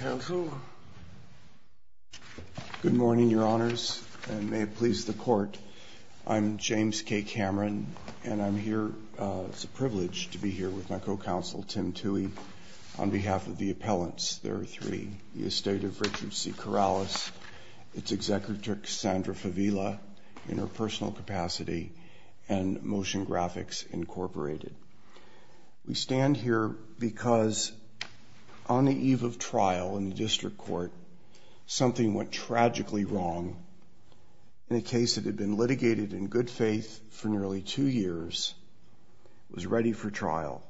Good morning, your honors, and may it please the court. I'm James K. Cameron, and I'm here, it's a privilege to be here with my co-counsel Tim Tuohy, on behalf of the appellants, there are three, the estate of Richard C. Corrales, its executive Sandra Favila, in her personal capacity, and Motion Graphics, Incorporated. We stand here because on the eve of trial in the district court, something went tragically wrong. In a case that had been litigated in good faith for nearly two years, was ready for trial.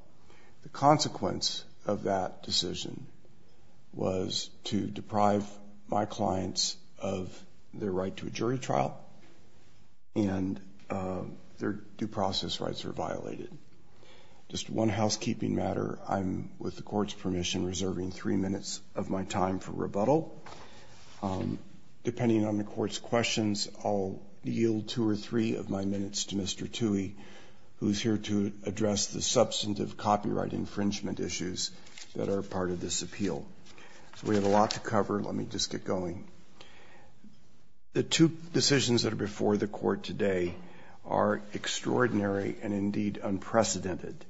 The consequence of that decision was to deprive my clients of their right to a jury trial, and their due process rights were violated. Just one housekeeping matter, I'm, with the court's permission, reserving three minutes of my time for rebuttal. Depending on the court's questions, I'll yield two or three of my minutes to Mr. Tuohy, who's here to address the substantive copyright infringement issues that are part of this appeal. We have a The two decisions that are before the court today are extraordinary and indeed unprecedented.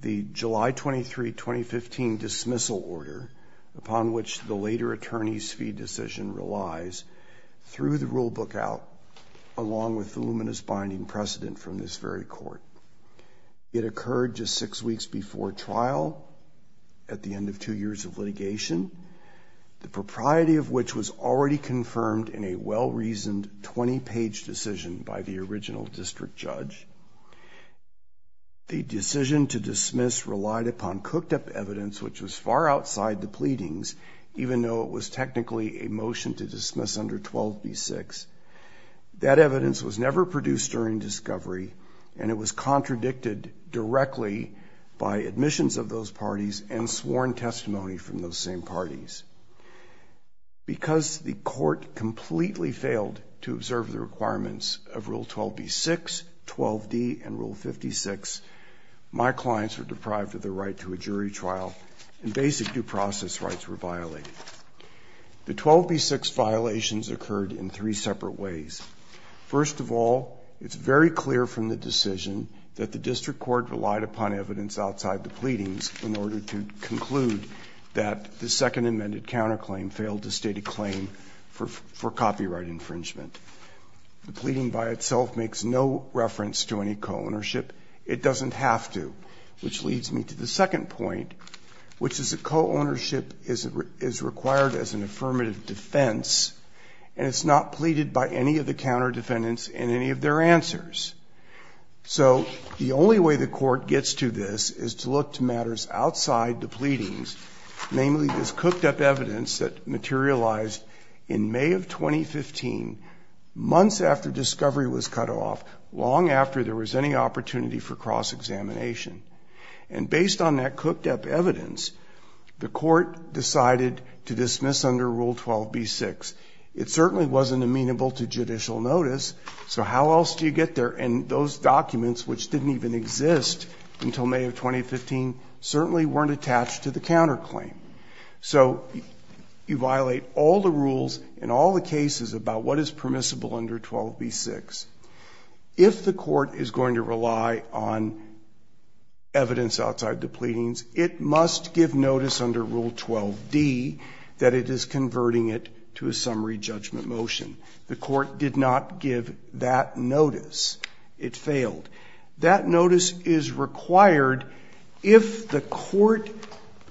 The July 23, 2015 dismissal order, upon which the later attorneys fee decision relies, through the rule book out, along with the luminous binding precedent from this very court. It occurred just six weeks before trial, at the end of two years of litigation. The priority of which was already confirmed in a well-reasoned 20 page decision by the original district judge. The decision to dismiss relied upon cooked up evidence, which was far outside the pleadings, even though it was technically a motion to dismiss under 12b-6. That evidence was never produced during discovery, and it was contradicted directly by admissions of those parties and sworn testimony from those same parties. Because the court completely failed to observe the requirements of rule 12b-6, 12d, and rule 56, my clients were deprived of the right to a jury trial, and basic due process rights were violated. The 12b-6 violations occurred in three separate ways. First of all, it's very clear from the decision that the district court relied upon evidence outside the pleadings in order to conclude that the second amended counterclaim failed to state a claim for copyright infringement. The pleading by itself makes no reference to any co-ownership. It doesn't have to, which leads me to the second point, which is that co-ownership is required as an affirmative defense, and it's not pleaded by any of the counter defendants in any of their answers. So the only way the court gets to this is to look to matters outside the pleadings, namely this cooked-up evidence that materialized in May of 2015, months after discovery was cut off, long after there was any opportunity for cross-examination. And based on that cooked-up evidence, the court decided to dismiss under rule 12b-6. It certainly wasn't amenable to judicial notice, so how else do you get there? And those documents, which didn't even exist until May of 2015, certainly weren't attached to the counterclaim. So you violate all the rules in all the cases about what is permissible under 12b-6. If the court is going to rely on evidence outside the pleadings, it must give notice under rule 12d that it is converting it to a summary judgment motion. The court did not give that notice. It failed. That notice is required if the court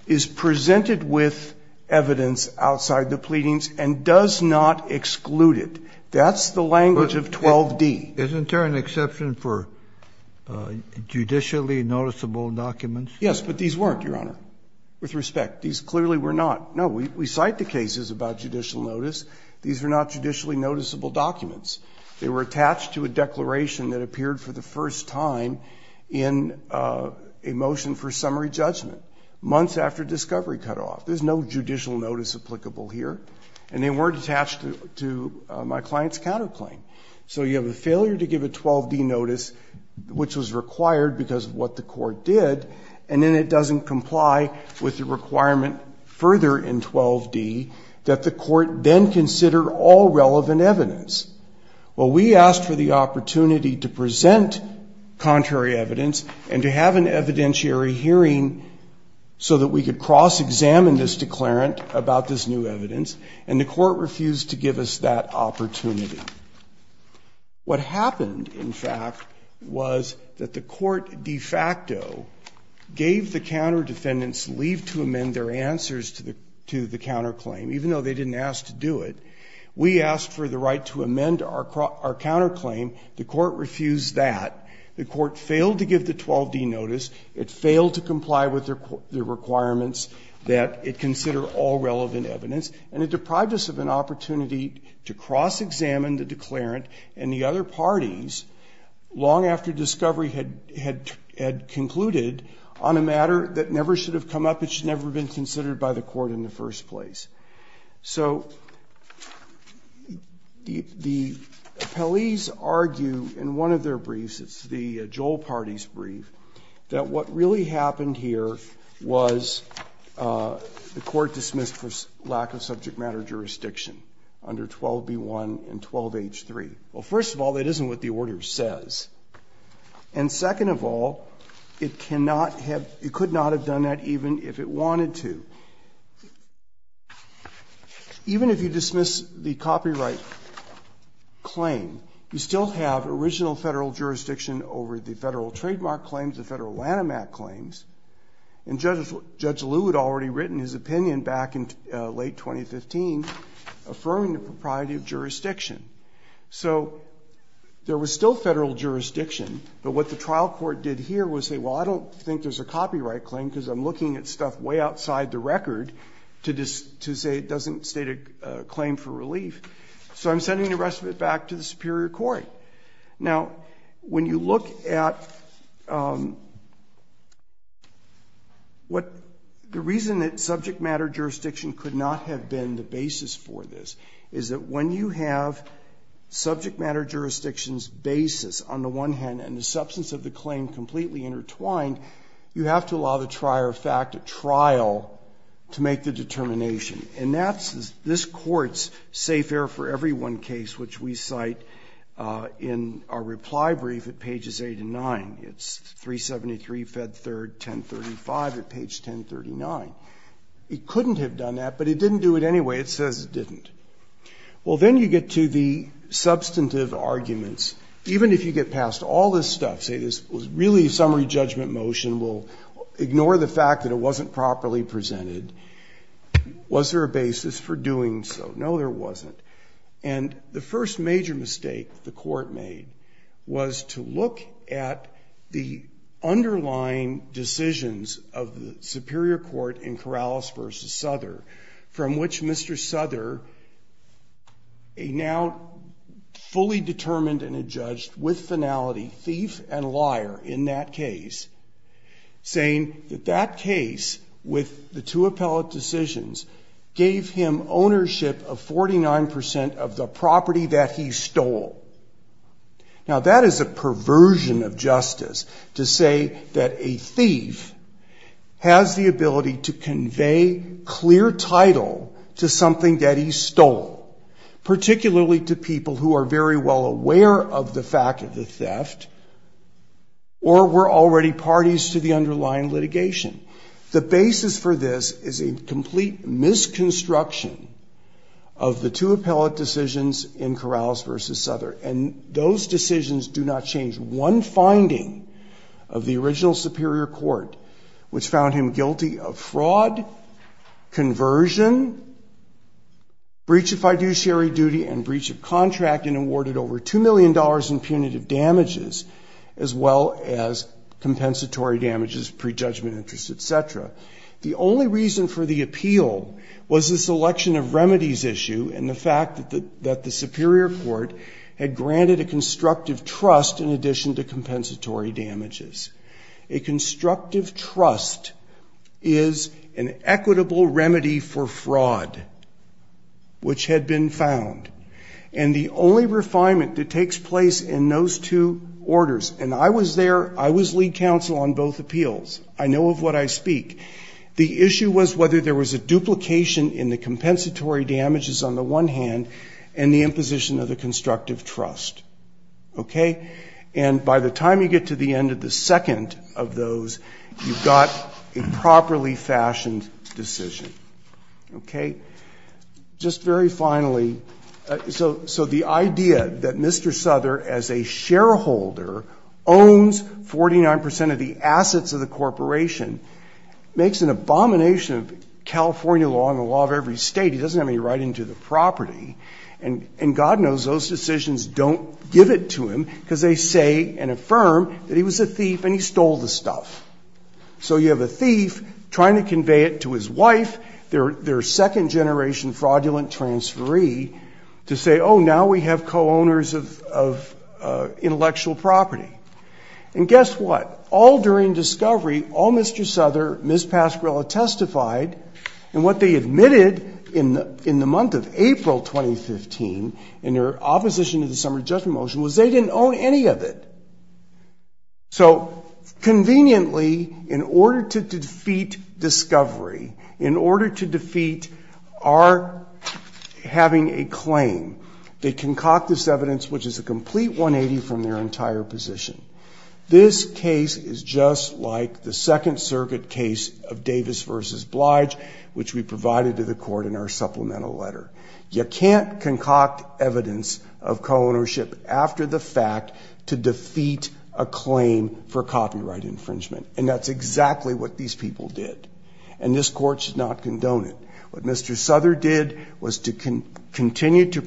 is presented with evidence outside the pleadings and does not exclude it. That's the language of 12d. Kennedy, isn't there an exception for judicially noticeable Yes, but these weren't, Your Honor, with respect. These clearly were not. No, we cite the cases about judicial notice. These were not judicially noticeable documents. They were attached to a declaration that appeared for the first time in a motion for summary judgment, months after discovery cutoff. There's no judicial notice applicable here. And they weren't attached to my client's counterclaim. So you have a failure to give a 12d notice, which was required because of what the court did, and then it doesn't comply with the requirement further in 12d that the court then considered all relevant evidence. Well, we asked for the opportunity to present contrary evidence and to have an evidentiary hearing so that we could cross-examine this declarant about this new evidence, and the court refused to give us that opportunity. What happened, in fact, was that the court de facto gave the counter defendants leave to amend their answers to the counterclaim, even though they didn't ask to do it. We asked for the right to amend our counterclaim. The court refused that. The court failed to give the 12d notice. It failed to comply with the requirements that it consider all relevant evidence, and it deprived us of an opportunity to cross-examine the declarant and the other parties long after discovery had concluded on a matter that never should have come up. It should never have been considered by the court in the first place. So the appellees argue in one of their briefs, it's the Joel Parties brief, that what really happened here was the court dismissed for lack of subject matter jurisdiction under 12b1 and 12h3. Well, first of all, that isn't what the order says. And second of all, it cannot have, it could not have done that even if it wanted to. Even if you dismiss the copyright claim, you still have original federal jurisdiction over the federal trademark claims, the federal Lanham Act claims. And Judge Lew had already written his opinion back in late 2015, affirming the propriety of jurisdiction. So there was still federal jurisdiction, but what the trial court did here was say, well, I don't think there's a copyright claim because I'm looking at stuff way outside the record to say it doesn't state a claim for relief. So I'm sending the rest of it back to the Superior Court. Now, when you look at what the reason that subject matter jurisdiction could not have been the basis for this is that when you have subject matter jurisdiction's basis on the one hand and the substance of the claim completely intertwined, you have to allow the trier of fact a trial to make the determination. And that's this Court's safe air for everyone case, which we cite in our reply brief at pages 8 and 9. It's 373, Fed 3rd, 1035 at page 1039. It couldn't have done that, but it didn't do it anyway. It says it didn't. Well, then you get to the substantive arguments. Even if you get past all this stuff, say this was really a summary judgment motion, we'll ignore the fact that it wasn't properly presented. Was there a basis for doing so? No, there wasn't. And the first major mistake the Court made was to look at the underlying decisions of the Superior Souther, a now fully determined and adjudged with finality thief and liar in that case, saying that that case with the two appellate decisions gave him ownership of 49% of the property that he stole. Now, that is a perversion of justice to say that a stole, particularly to people who are very well aware of the fact of the theft or were already parties to the underlying litigation. The basis for this is a complete misconstruction of the two appellate decisions in Corrales v. Souther. And those decisions do not change one finding of the original Superior Court, which found him guilty of fraud, conversion, breach of fiduciary duty, and breach of contract, and awarded over $2 million in punitive damages, as well as compensatory damages, prejudgment interest, etc. The only reason for the appeal was the selection of remedies issue and the fact that the Superior Court had granted a constructive trust in addition to compensatory damages. A constructive trust is an equitable remedy for fraud, which had been found. And the only refinement that takes place in those two orders, and I was there, I was lead counsel on both appeals. I know of what I speak. The issue was whether there was a duplication in the compensatory damages on the one hand, and the imposition of the constructive trust. Okay? And by the time you get to the end of the second of those, you've got a properly fashioned decision. Okay? Just very finally, so the idea that Mr. Souther, as a shareholder, owns 49 percent of the assets of the corporation, makes an abomination of California law and the law of every state. He doesn't have any right into the property. And God knows those decisions don't give it to him, because they say and affirm that he was a thief and he stole the stuff. So you have a thief trying to convey it to his wife, their second generation fraudulent transferee, to say, oh, now we have co-owners of intellectual property. And guess what? All during discovery, all Mr. Souther, Ms. Pascrella testified, and what they admitted in the month of April 2015, in their opposition to the summary judgment motion, was they didn't own any of it. So conveniently, in order to defeat discovery, in order to defeat our having a claim, they concoct this evidence, which is a complete 180 from their entire position. This case is just like the Second Circuit case of Davis versus Blige, which we provided to the court in our supplemental letter. You can't concoct evidence of co-ownership after the fact to defeat a claim for copyright infringement. And that's exactly what these people did. And this court should not condone it. What Mr. Souther did was to continue to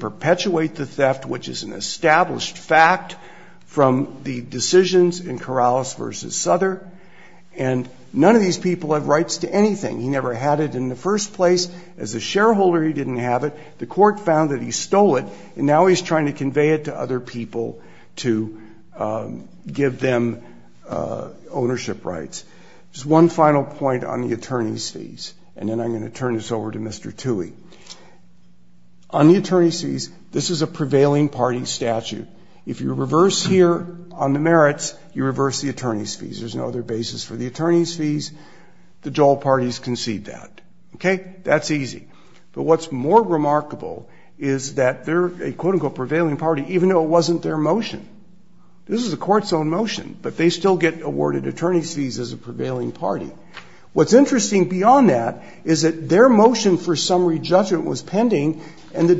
from the decisions in Corrales versus Souther, and none of these people have rights to anything. He never had it in the first place. As a shareholder, he didn't have it. The court found that he stole it, and now he's trying to convey it to other people to give them ownership rights. Just one final point on the attorney's fees, and then I'm going to turn this over to Mr. Toohey. On the attorney's fees, this is a prevailing party statute. If you reverse here on the merits, you reverse the attorney's fees. There's no other basis for the attorney's fees. The Joel parties concede that. Okay? That's easy. But what's more remarkable is that they're a quote-unquote prevailing party, even though it wasn't their motion. This is the court's own motion, but they still get awarded attorney's fees as a prevailing party. What's interesting beyond that is that their motion for summary judgment was pending, and the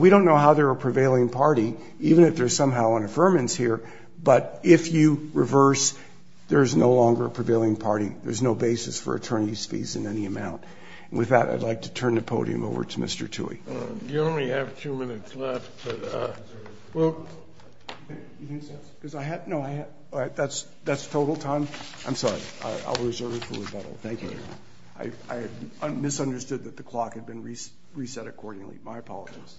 we don't know how they're a prevailing party, even if there's somehow an affirmance here, but if you reverse, there's no longer a prevailing party. There's no basis for attorney's fees in any amount. With that, I'd like to turn the podium over to Mr. Toohey. You only have two minutes left, but, uh, well, that's total time. I'm sorry. I'll reserve it for rebuttal. Thank you. I misunderstood that the clock had been reset accordingly. My apologies.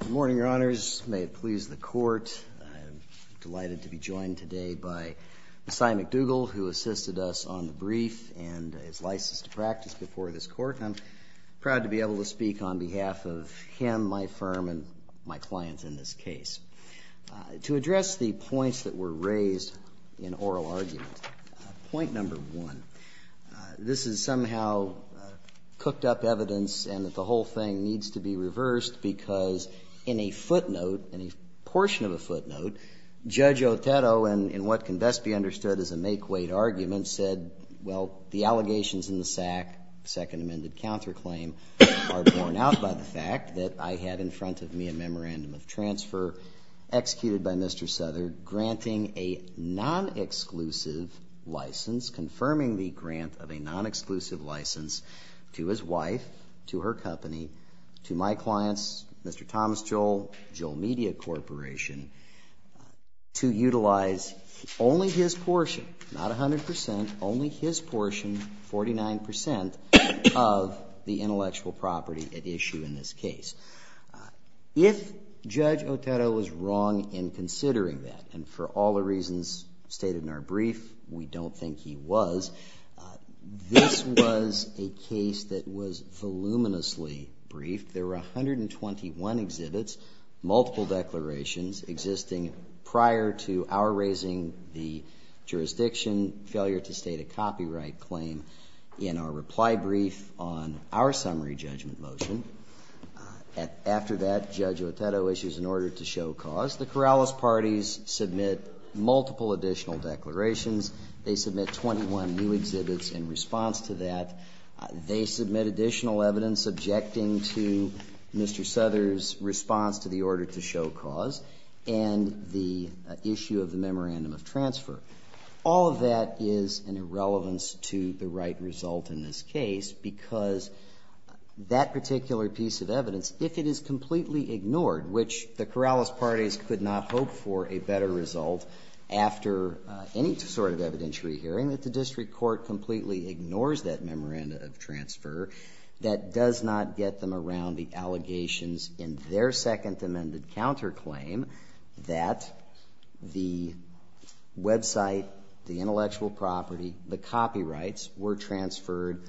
Good morning, Your Honors. May it please the court. I'm delighted to be joined today by Messiah McDougall, who assisted us on the brief and is licensed to practice before this court. I'm proud to be able to speak on behalf of him, my clients, in this case. To address the points that were raised in oral argument, point number one, this is somehow cooked-up evidence and that the whole thing needs to be reversed because in a footnote, in a portion of a footnote, Judge Otero, in what can best be understood as a make-weight argument, said, well, the allegations in the SAC, second amended counterclaim, are borne out by the fact that I had in front of me a memorandum of transfer executed by Mr. Souther, granting a non-exclusive license, confirming the grant of a non-exclusive license to his wife, to her company, to my clients, Mr. Thomas Joel, Joel Media Corporation, to utilize only his portion, not a hundred percent, only his portion, forty-nine percent, of the If Judge Otero was wrong in considering that, and for all the reasons stated in our brief, we don't think he was, this was a case that was voluminously briefed. There were a hundred and twenty-one exhibits, multiple declarations, existing prior to our raising the jurisdiction failure to state a copyright claim in our reply brief on our summary judgment motion. After that, Judge Otero issues an order to show cause. The Corrales parties submit multiple additional declarations. They submit twenty-one new exhibits in response to that. They submit additional evidence objecting to Mr. Souther's response to the order to show cause, and the issue of the memorandum of transfer. All of that is in relevance to the right result in this case, because that particular piece of evidence, if it is completely ignored, which the Corrales parties could not hope for a better result after any sort of evidentiary hearing, that the district court completely ignores that memorandum of transfer, that does not get them around the allegations in their second amended counterclaim that the website, the intellectual property, the copyrights were transferred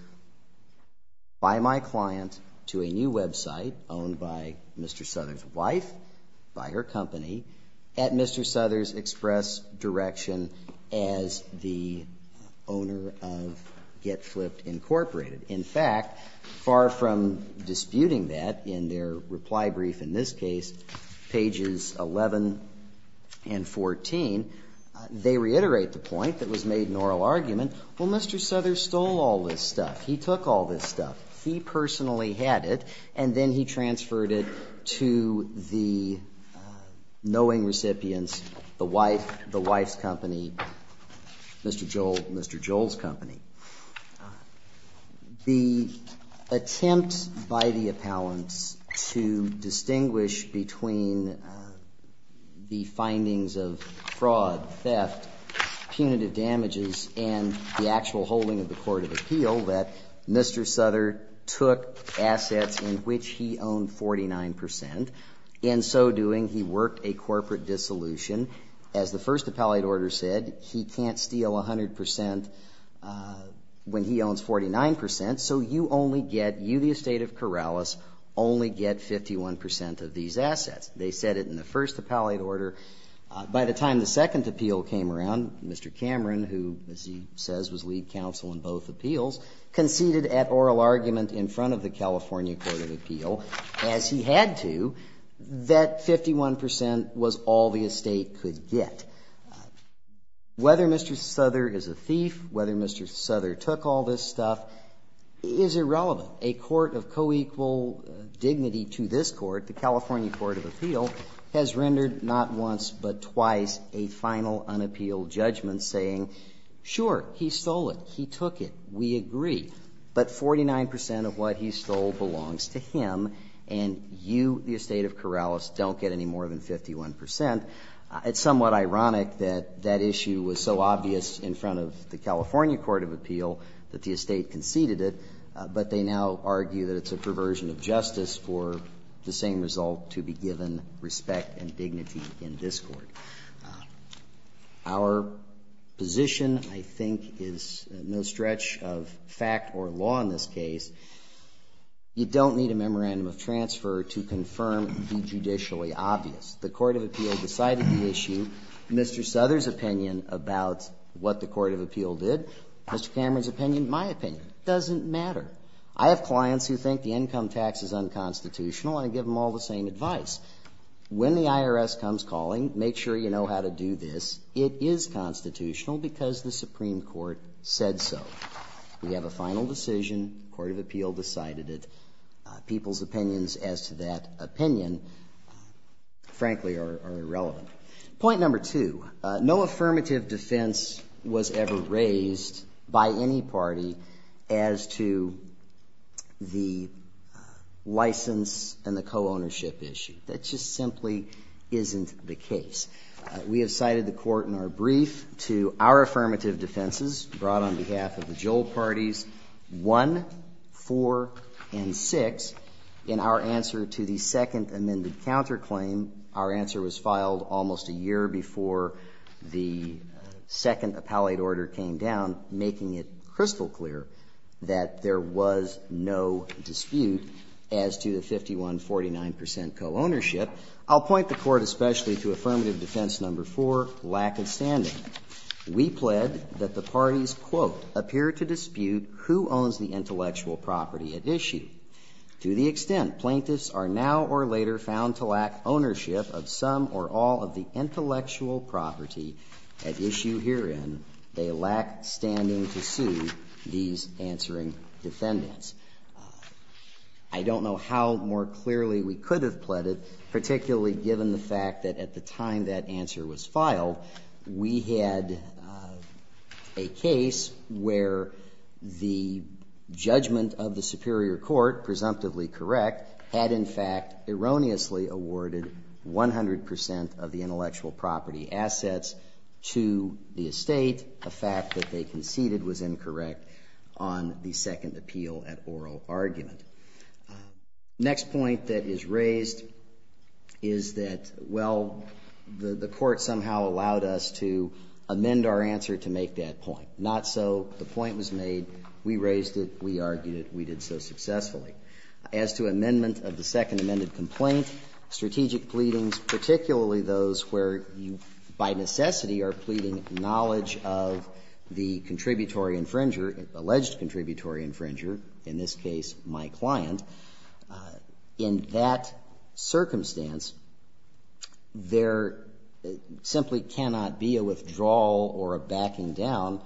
by my client to a new website owned by Mr. Souther's wife, by her company, at Mr. Souther's express direction as the owner of Get Disputing that in their reply brief in this case, pages 11 and 14, they reiterate the point that was made in oral argument, well Mr. Souther stole all this stuff, he took all this stuff, he personally had it, and then he transferred it to the knowing recipients, the wife's company, Mr. Joel's company. The attempt by the appellants to distinguish between the findings of fraud, theft, punitive damages, and the actual holding of the court of appeal that Mr. Souther took assets in which he owned 49%, in so doing he worked a corporate dissolution. As the first appellate order said, he can't steal 100% when he owns 49%, so you only get, you the estate of Corrales, only get 51% of these assets. They said it in the first appellate order. By the time the second appeal came around, Mr. Cameron, who as he says was lead counsel in both appeals, conceded at oral argument in front of the California Court of Appeal, as he had to, that 51% was all the estate could get. Whether Mr. Souther is a thief, whether Mr. Souther took all this stuff is irrelevant. A court of co-equal dignity to this court, the California Court of Appeal, has rendered not once but twice a final unappealed judgment saying sure, he stole it, he took it, we agree, but 49% of what he stole belongs to him and you, the estate of Corrales, don't get any more than 51%. It's somewhat ironic that that issue was so obvious in front of the California Court of Appeal that the estate conceded it, but they now argue that it's a perversion of justice for the same result to be given respect and dignity in this court. Our position, I think, is no stretch of fact or law in this case. You don't need a memorandum of transfer to confirm the judicially obvious. The Court of Appeal decided the issue, Mr. Souther's opinion about what the Court of Appeal did, Mr. Cameron's opinion, my opinion, doesn't matter. I have clients who think the income tax is unconstitutional and I give them all the same advice. When the IRS comes calling, make sure you know how to do this. It is constitutional because the Supreme Court said so. We have a final decision, the Court of Appeal decided it. People's opinions as to that opinion, frankly, are irrelevant. Point number two, no affirmative defense was ever raised by any party as to the license and the co-ownership issue. That just simply isn't the case. We have cited the court in our brief to our affirmative defenses brought on behalf of the Joel parties 1, 4, and 6 in our answer to the second amended counterclaim. Our answer was filed almost a year before the second appellate order came down, making it crystal clear that there was no dispute as to the 51, 49 percent co-ownership. I'll point the court especially to affirmative defense number four, lack of standing. We pled that the parties, quote, appear to dispute who owns the intellectual property at issue. To the extent plaintiffs are now or later found to lack ownership of some or all of the intellectual property at issue herein, they lack standing to sue these answering defendants. I don't know how more clearly we could have pled it, particularly given the fact that at the time that answer was filed, we had a case where the judgment of the superior court, presumptively correct, had in fact erroneously awarded 100 percent of the intellectual property assets to the estate. The fact that they conceded was incorrect on the second appeal at oral argument. The next point that is raised is that, well, the court somehow allowed us to amend our answer to make that point. Not so. The point was made. We raised it. We argued it. We did so successfully. As to amendment of the second amended complaint, strategic pleadings, particularly those where you by necessity are pleading knowledge of the contributory infringer, alleged contributory infringer, in this case my client, in that circumstance, there simply cannot be a withdrawal or a backing down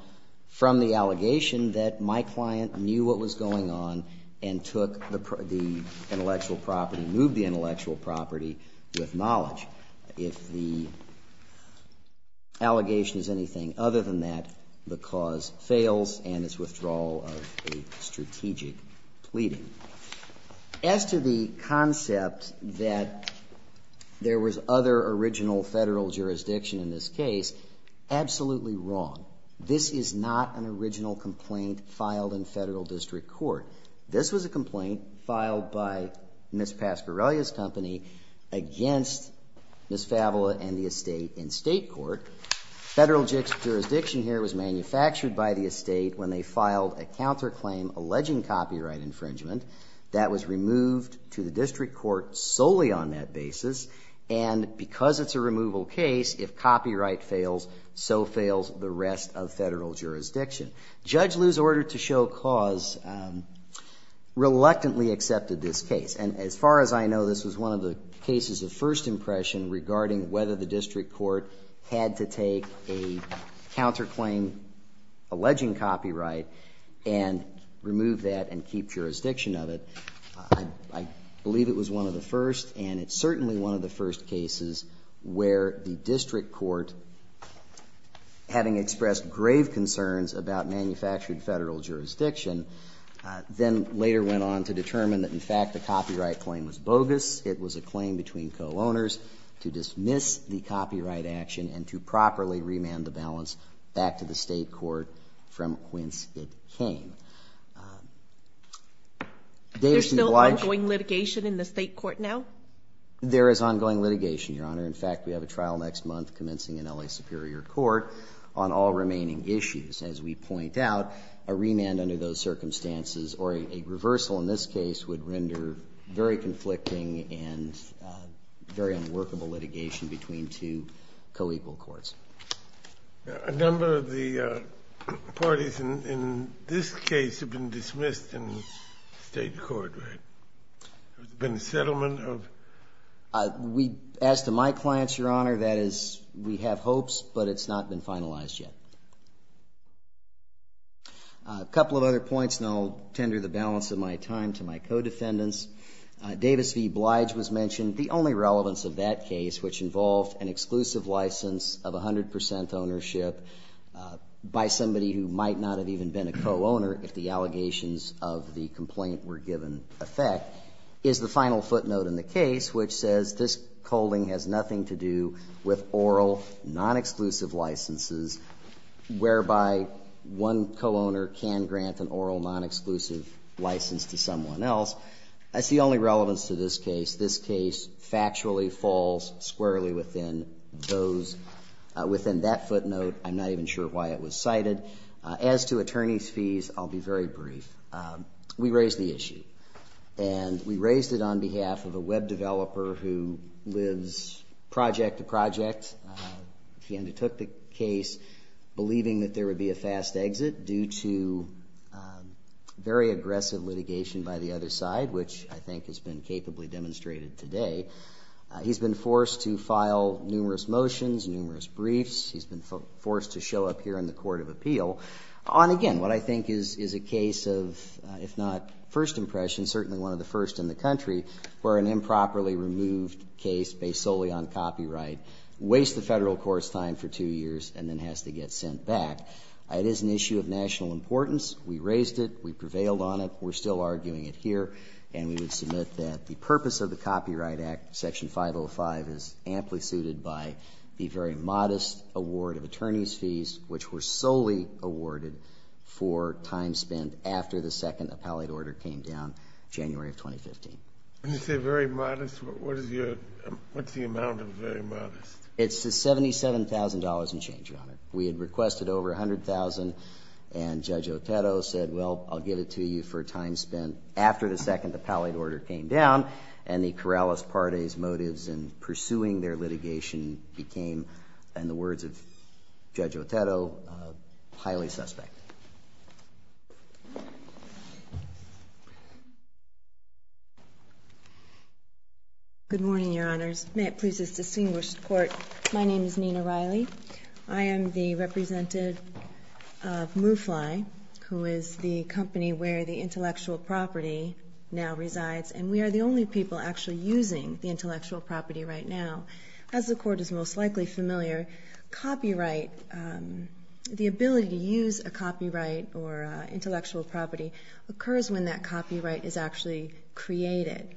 from the allegation that my client knew what was going on and took the intellectual property, moved the intellectual property with knowledge. If the allegation is anything other than that, the cause fails and it's withdrawal of a strategic pleading. As to the concept that there was other original Federal jurisdiction in this case, absolutely wrong. This is not an original complaint filed in Federal district court. This was a complaint filed by Ms. Pascarellia's company against Ms. Favola and the estate in state court. Federal jurisdiction here was manufactured by the estate when they filed a counterclaim alleging copyright infringement. That was removed to the district court solely on that basis. And because it's a removal case, if copyright fails, so fails the rest of Federal jurisdiction. Judge Lew's order to show cause reluctantly accepted this case. And as far as I know, this was one of the cases of first impression regarding whether the district court had to take a counterclaim alleging copyright and remove that and keep jurisdiction of it. I believe it was one of the first and it's certainly one of the first cases where the Federal jurisdiction then later went on to determine that in fact the copyright claim was bogus. It was a claim between co-owners to dismiss the copyright action and to properly remand the balance back to the state court from whence it came. There's still ongoing litigation in the state court now? There is ongoing litigation, Your Honor. In fact, we have a trial next month commencing in LA Superior Court on all remaining issues as we point out, a remand under those circumstances or a reversal in this case would render very conflicting and very unworkable litigation between two co-equal courts. A number of the parties in this case have been dismissed in the state court, right? There's been a settlement of? As to my clients, Your Honor, that is, we have hopes but it's not been finalized yet. A couple of other points and I'll tender the balance of my time to my co-defendants. Davis v. Blige was mentioned. The only relevance of that case which involved an exclusive license of 100 percent ownership by somebody who might not have even been a co-owner if the allegations of the complaint were given effect is the final footnote in the case which says this holding has nothing to do with oral non-exclusive licenses whereby one co-owner can grant an oral non-exclusive license to someone else. That's the only relevance to this case. This case factually falls squarely within those, within that footnote. I'm not even sure why it was cited. As to attorney's fees, I'll be very brief. We raised the issue and we raised it on behalf of a web developer who lives project to project. He undertook the case believing that there would be a fast exit due to very aggressive litigation by the other side which I think has been capably demonstrated today. He's been forced to file numerous motions, numerous briefs. He's been forced to show up here in the court of appeal on, again, what I think is a case of, if not first impression, certainly one of the first in the country where an improperly removed case based solely on copyright wastes the federal court's time for two years and then has to get sent back. It is an issue of national importance. We raised it. We prevailed on it. We're still arguing it here and we would submit that the purpose of the Copyright Act, Section 505, is amply suited by the very modest award of attorney's fees which were solely awarded for time spent after the second appellate order came down, January of 2015. When you say very modest, what's the amount of very modest? It's $77,000 and change on it. We had requested over $100,000 and Judge Otetto said, well, I'll give it to you for time spent after the second appellate order came down and the Corrales-Pardes motives in pursuing their litigation became, in the words of Judge Otetto, highly suspect. Good morning, Your Honors. May it please this distinguished court, my name is Nina Riley. I am the representative of MuFly, who is the company where the intellectual property now is. As the court is most likely familiar, copyright, the ability to use a copyright or intellectual property occurs when that copyright is actually created.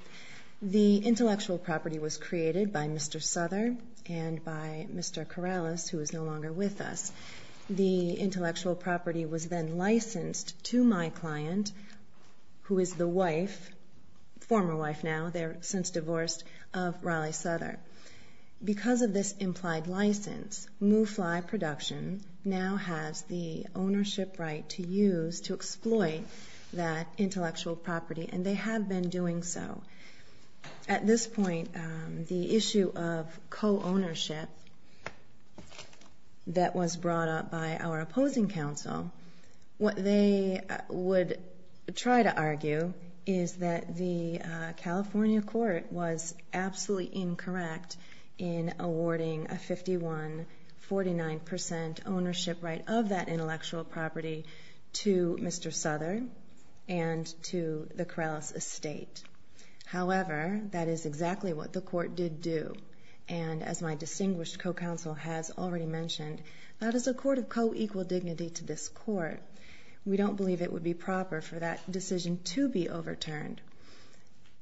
The intellectual property was created by Mr. Souther and by Mr. Corrales, who is no longer with us. The intellectual property was then licensed to my client, who is the wife, former wife now, they're since divorced, of Riley Souther. Because of this implied license, MuFly Production now has the ownership right to use, to exploit that intellectual property and they have been doing so. At this point, the issue of co-ownership that was brought up by our opposing counsel, what they would try to argue is that the California court was absolutely incorrect in awarding a 51-49% ownership right of that intellectual property to Mr. Souther and to the Corrales estate. However, that is exactly what the court did do. As my distinguished co-counsel has already mentioned, that is a court of co-equal dignity to this court. We don't believe it would be proper for that decision to be overturned.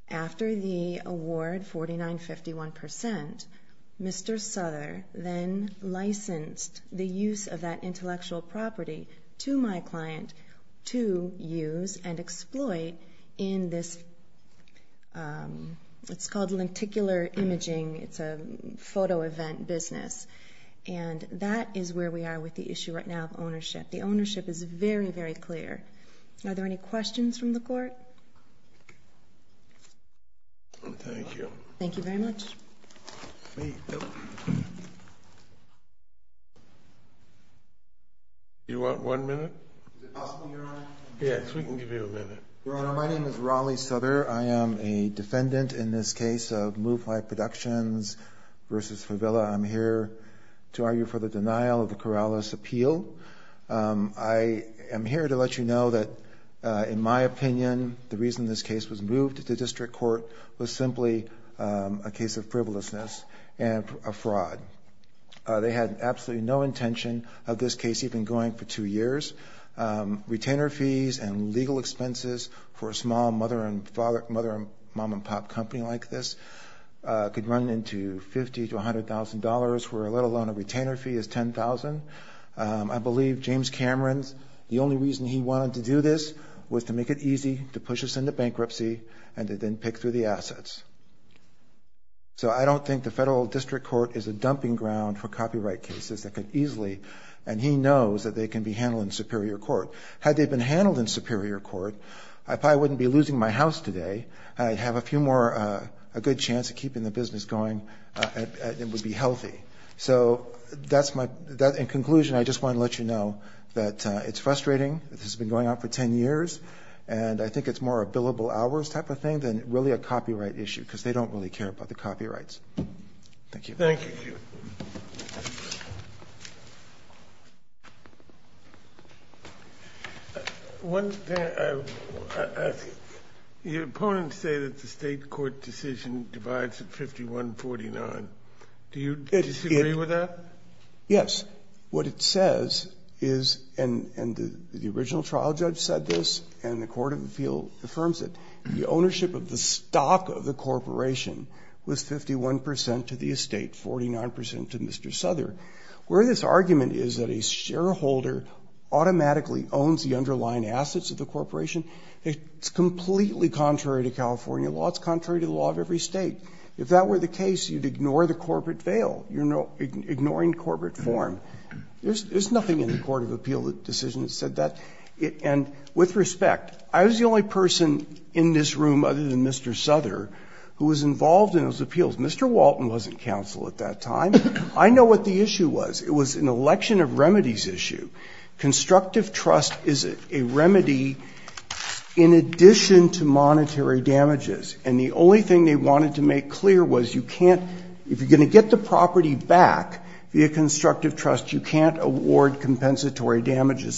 After the award, 49-51%, Mr. Souther then licensed the use of that intellectual property to my client to use and exploit in this, it's called lenticular imaging, it's a photo event business, and that is where we are with the issue right now of ownership. The ownership is very, very clear. Are there any questions from the court? Thank you. Thank you very much. You want one minute? Yes, we can give you a minute. Your Honor, my name is Riley Souther, I am a defendant in this case of MuFly Productions versus Fevella, I'm here to argue for the denial of the Corrales appeal. I am here to let you know that in my opinion, the reason this case was moved to district court was simply a case of frivolousness and a fraud. They had absolutely no intention of this case even going for two years. Retainer fees and legal expenses for a small mother and father, mother, mom and pop company like this could run into $50,000 to $100,000, where let alone a retainer fee is $10,000. I believe James Cameron's, the only reason he wanted to do this was to make it easy to push us into bankruptcy and to then pick through the assets. So I don't think the federal district court is a dumping ground for copyright cases that could easily, and he knows that they can be handled in superior court. Had they been handled in superior court, I probably wouldn't be losing my house today. I'd have a few more, a good chance of keeping the business going and it would be healthy. So that's my, in conclusion, I just want to let you know that it's frustrating. This has been going on for 10 years. And I think it's more a billable hours type of thing than really a copyright issue, because they don't really care about the copyrights. Thank you. Thank you. Your opponents say that the state court decision divides at 51-49, do you disagree with that? Yes. What it says is, and the original trial judge said this, and the court of appeal affirms it. The ownership of the stock of the corporation was 51% to the estate, 49% to Mr. Souther. Where this argument is that a shareholder automatically owns the underlying assets of the corporation, it's completely contrary to California law. It's contrary to the law of every state. If that were the case, you'd ignore the corporate veil. You're ignoring corporate form. There's nothing in the court of appeal decision that said that. And with respect, I was the only person in this room other than Mr. Souther who was involved in those appeals. Mr. Walton wasn't counsel at that time. I know what the issue was. It was an election of remedies issue. Constructive trust is a remedy in addition to monetary damages. And the only thing they wanted to make clear was you can't, if you're going to get the property back via property, you can't award compensatory damages,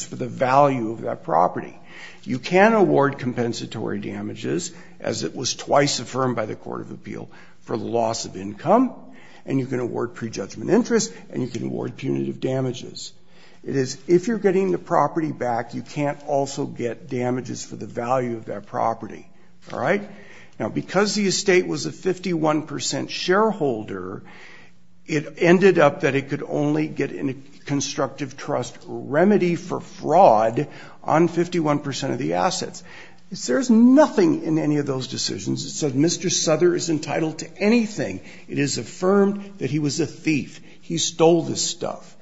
as it was twice affirmed by the court of appeal, for the loss of income. And you can award prejudgment interest, and you can award punitive damages. It is, if you're getting the property back, you can't also get damages for the value of that property. All right? Now, because the estate was a 51% shareholder, it ended up that it could only get in a constructive trust remedy for 151% of the assets. There's nothing in any of those decisions that said Mr. Souther is entitled to anything. It is affirmed that he was a thief. He stole this stuff.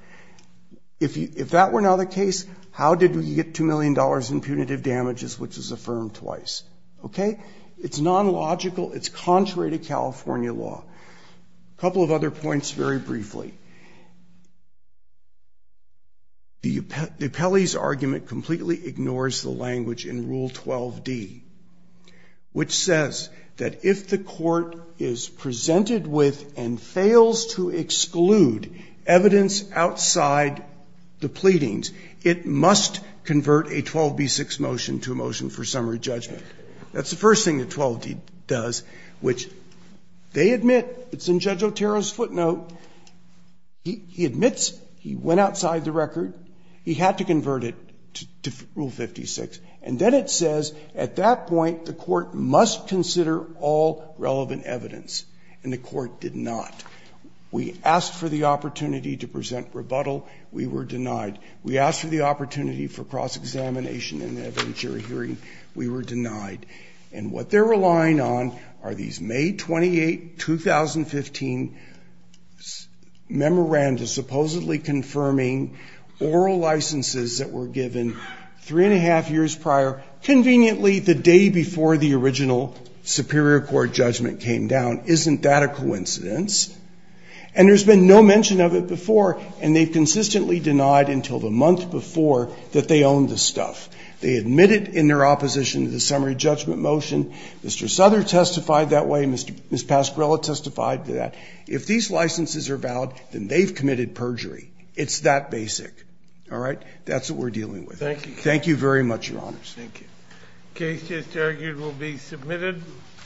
If that were not the case, how did we get $2 million in punitive damages, which is affirmed twice? Okay? It's non-logical. It's contrary to California law. A couple of other points very briefly. The appellee's argument completely ignores the language in Rule 12D, which says that if the court is presented with and fails to exclude evidence outside the pleadings, it must convert a 12B6 motion to a motion for summary judgment. That's the first thing that 12D does, which they admit, it's in Judge Otero's footnote, that the court is not entitled to He admits he went outside the record. He had to convert it to Rule 56. And then it says, at that point, the court must consider all relevant evidence. And the court did not. We asked for the opportunity to present rebuttal. We were denied. We asked for the opportunity for cross-examination in the evidentiary hearing. We were denied. And what they're relying on are these May 28, 2015 memoranda supposedly confirming oral licenses that were given three and a half years prior. Conveniently, the day before the original Superior Court judgment came down. Isn't that a coincidence? And there's been no mention of it before, and they've consistently denied until the month before that they own the stuff. They admit it in their opposition to the summary judgment motion. Mr. Souther testified that way. Ms. Pascrella testified to that. If these licenses are valid, then they've committed perjury. It's that basic, all right? That's what we're dealing with. Thank you very much, Your Honors. Thank you. Case just argued will be submitted.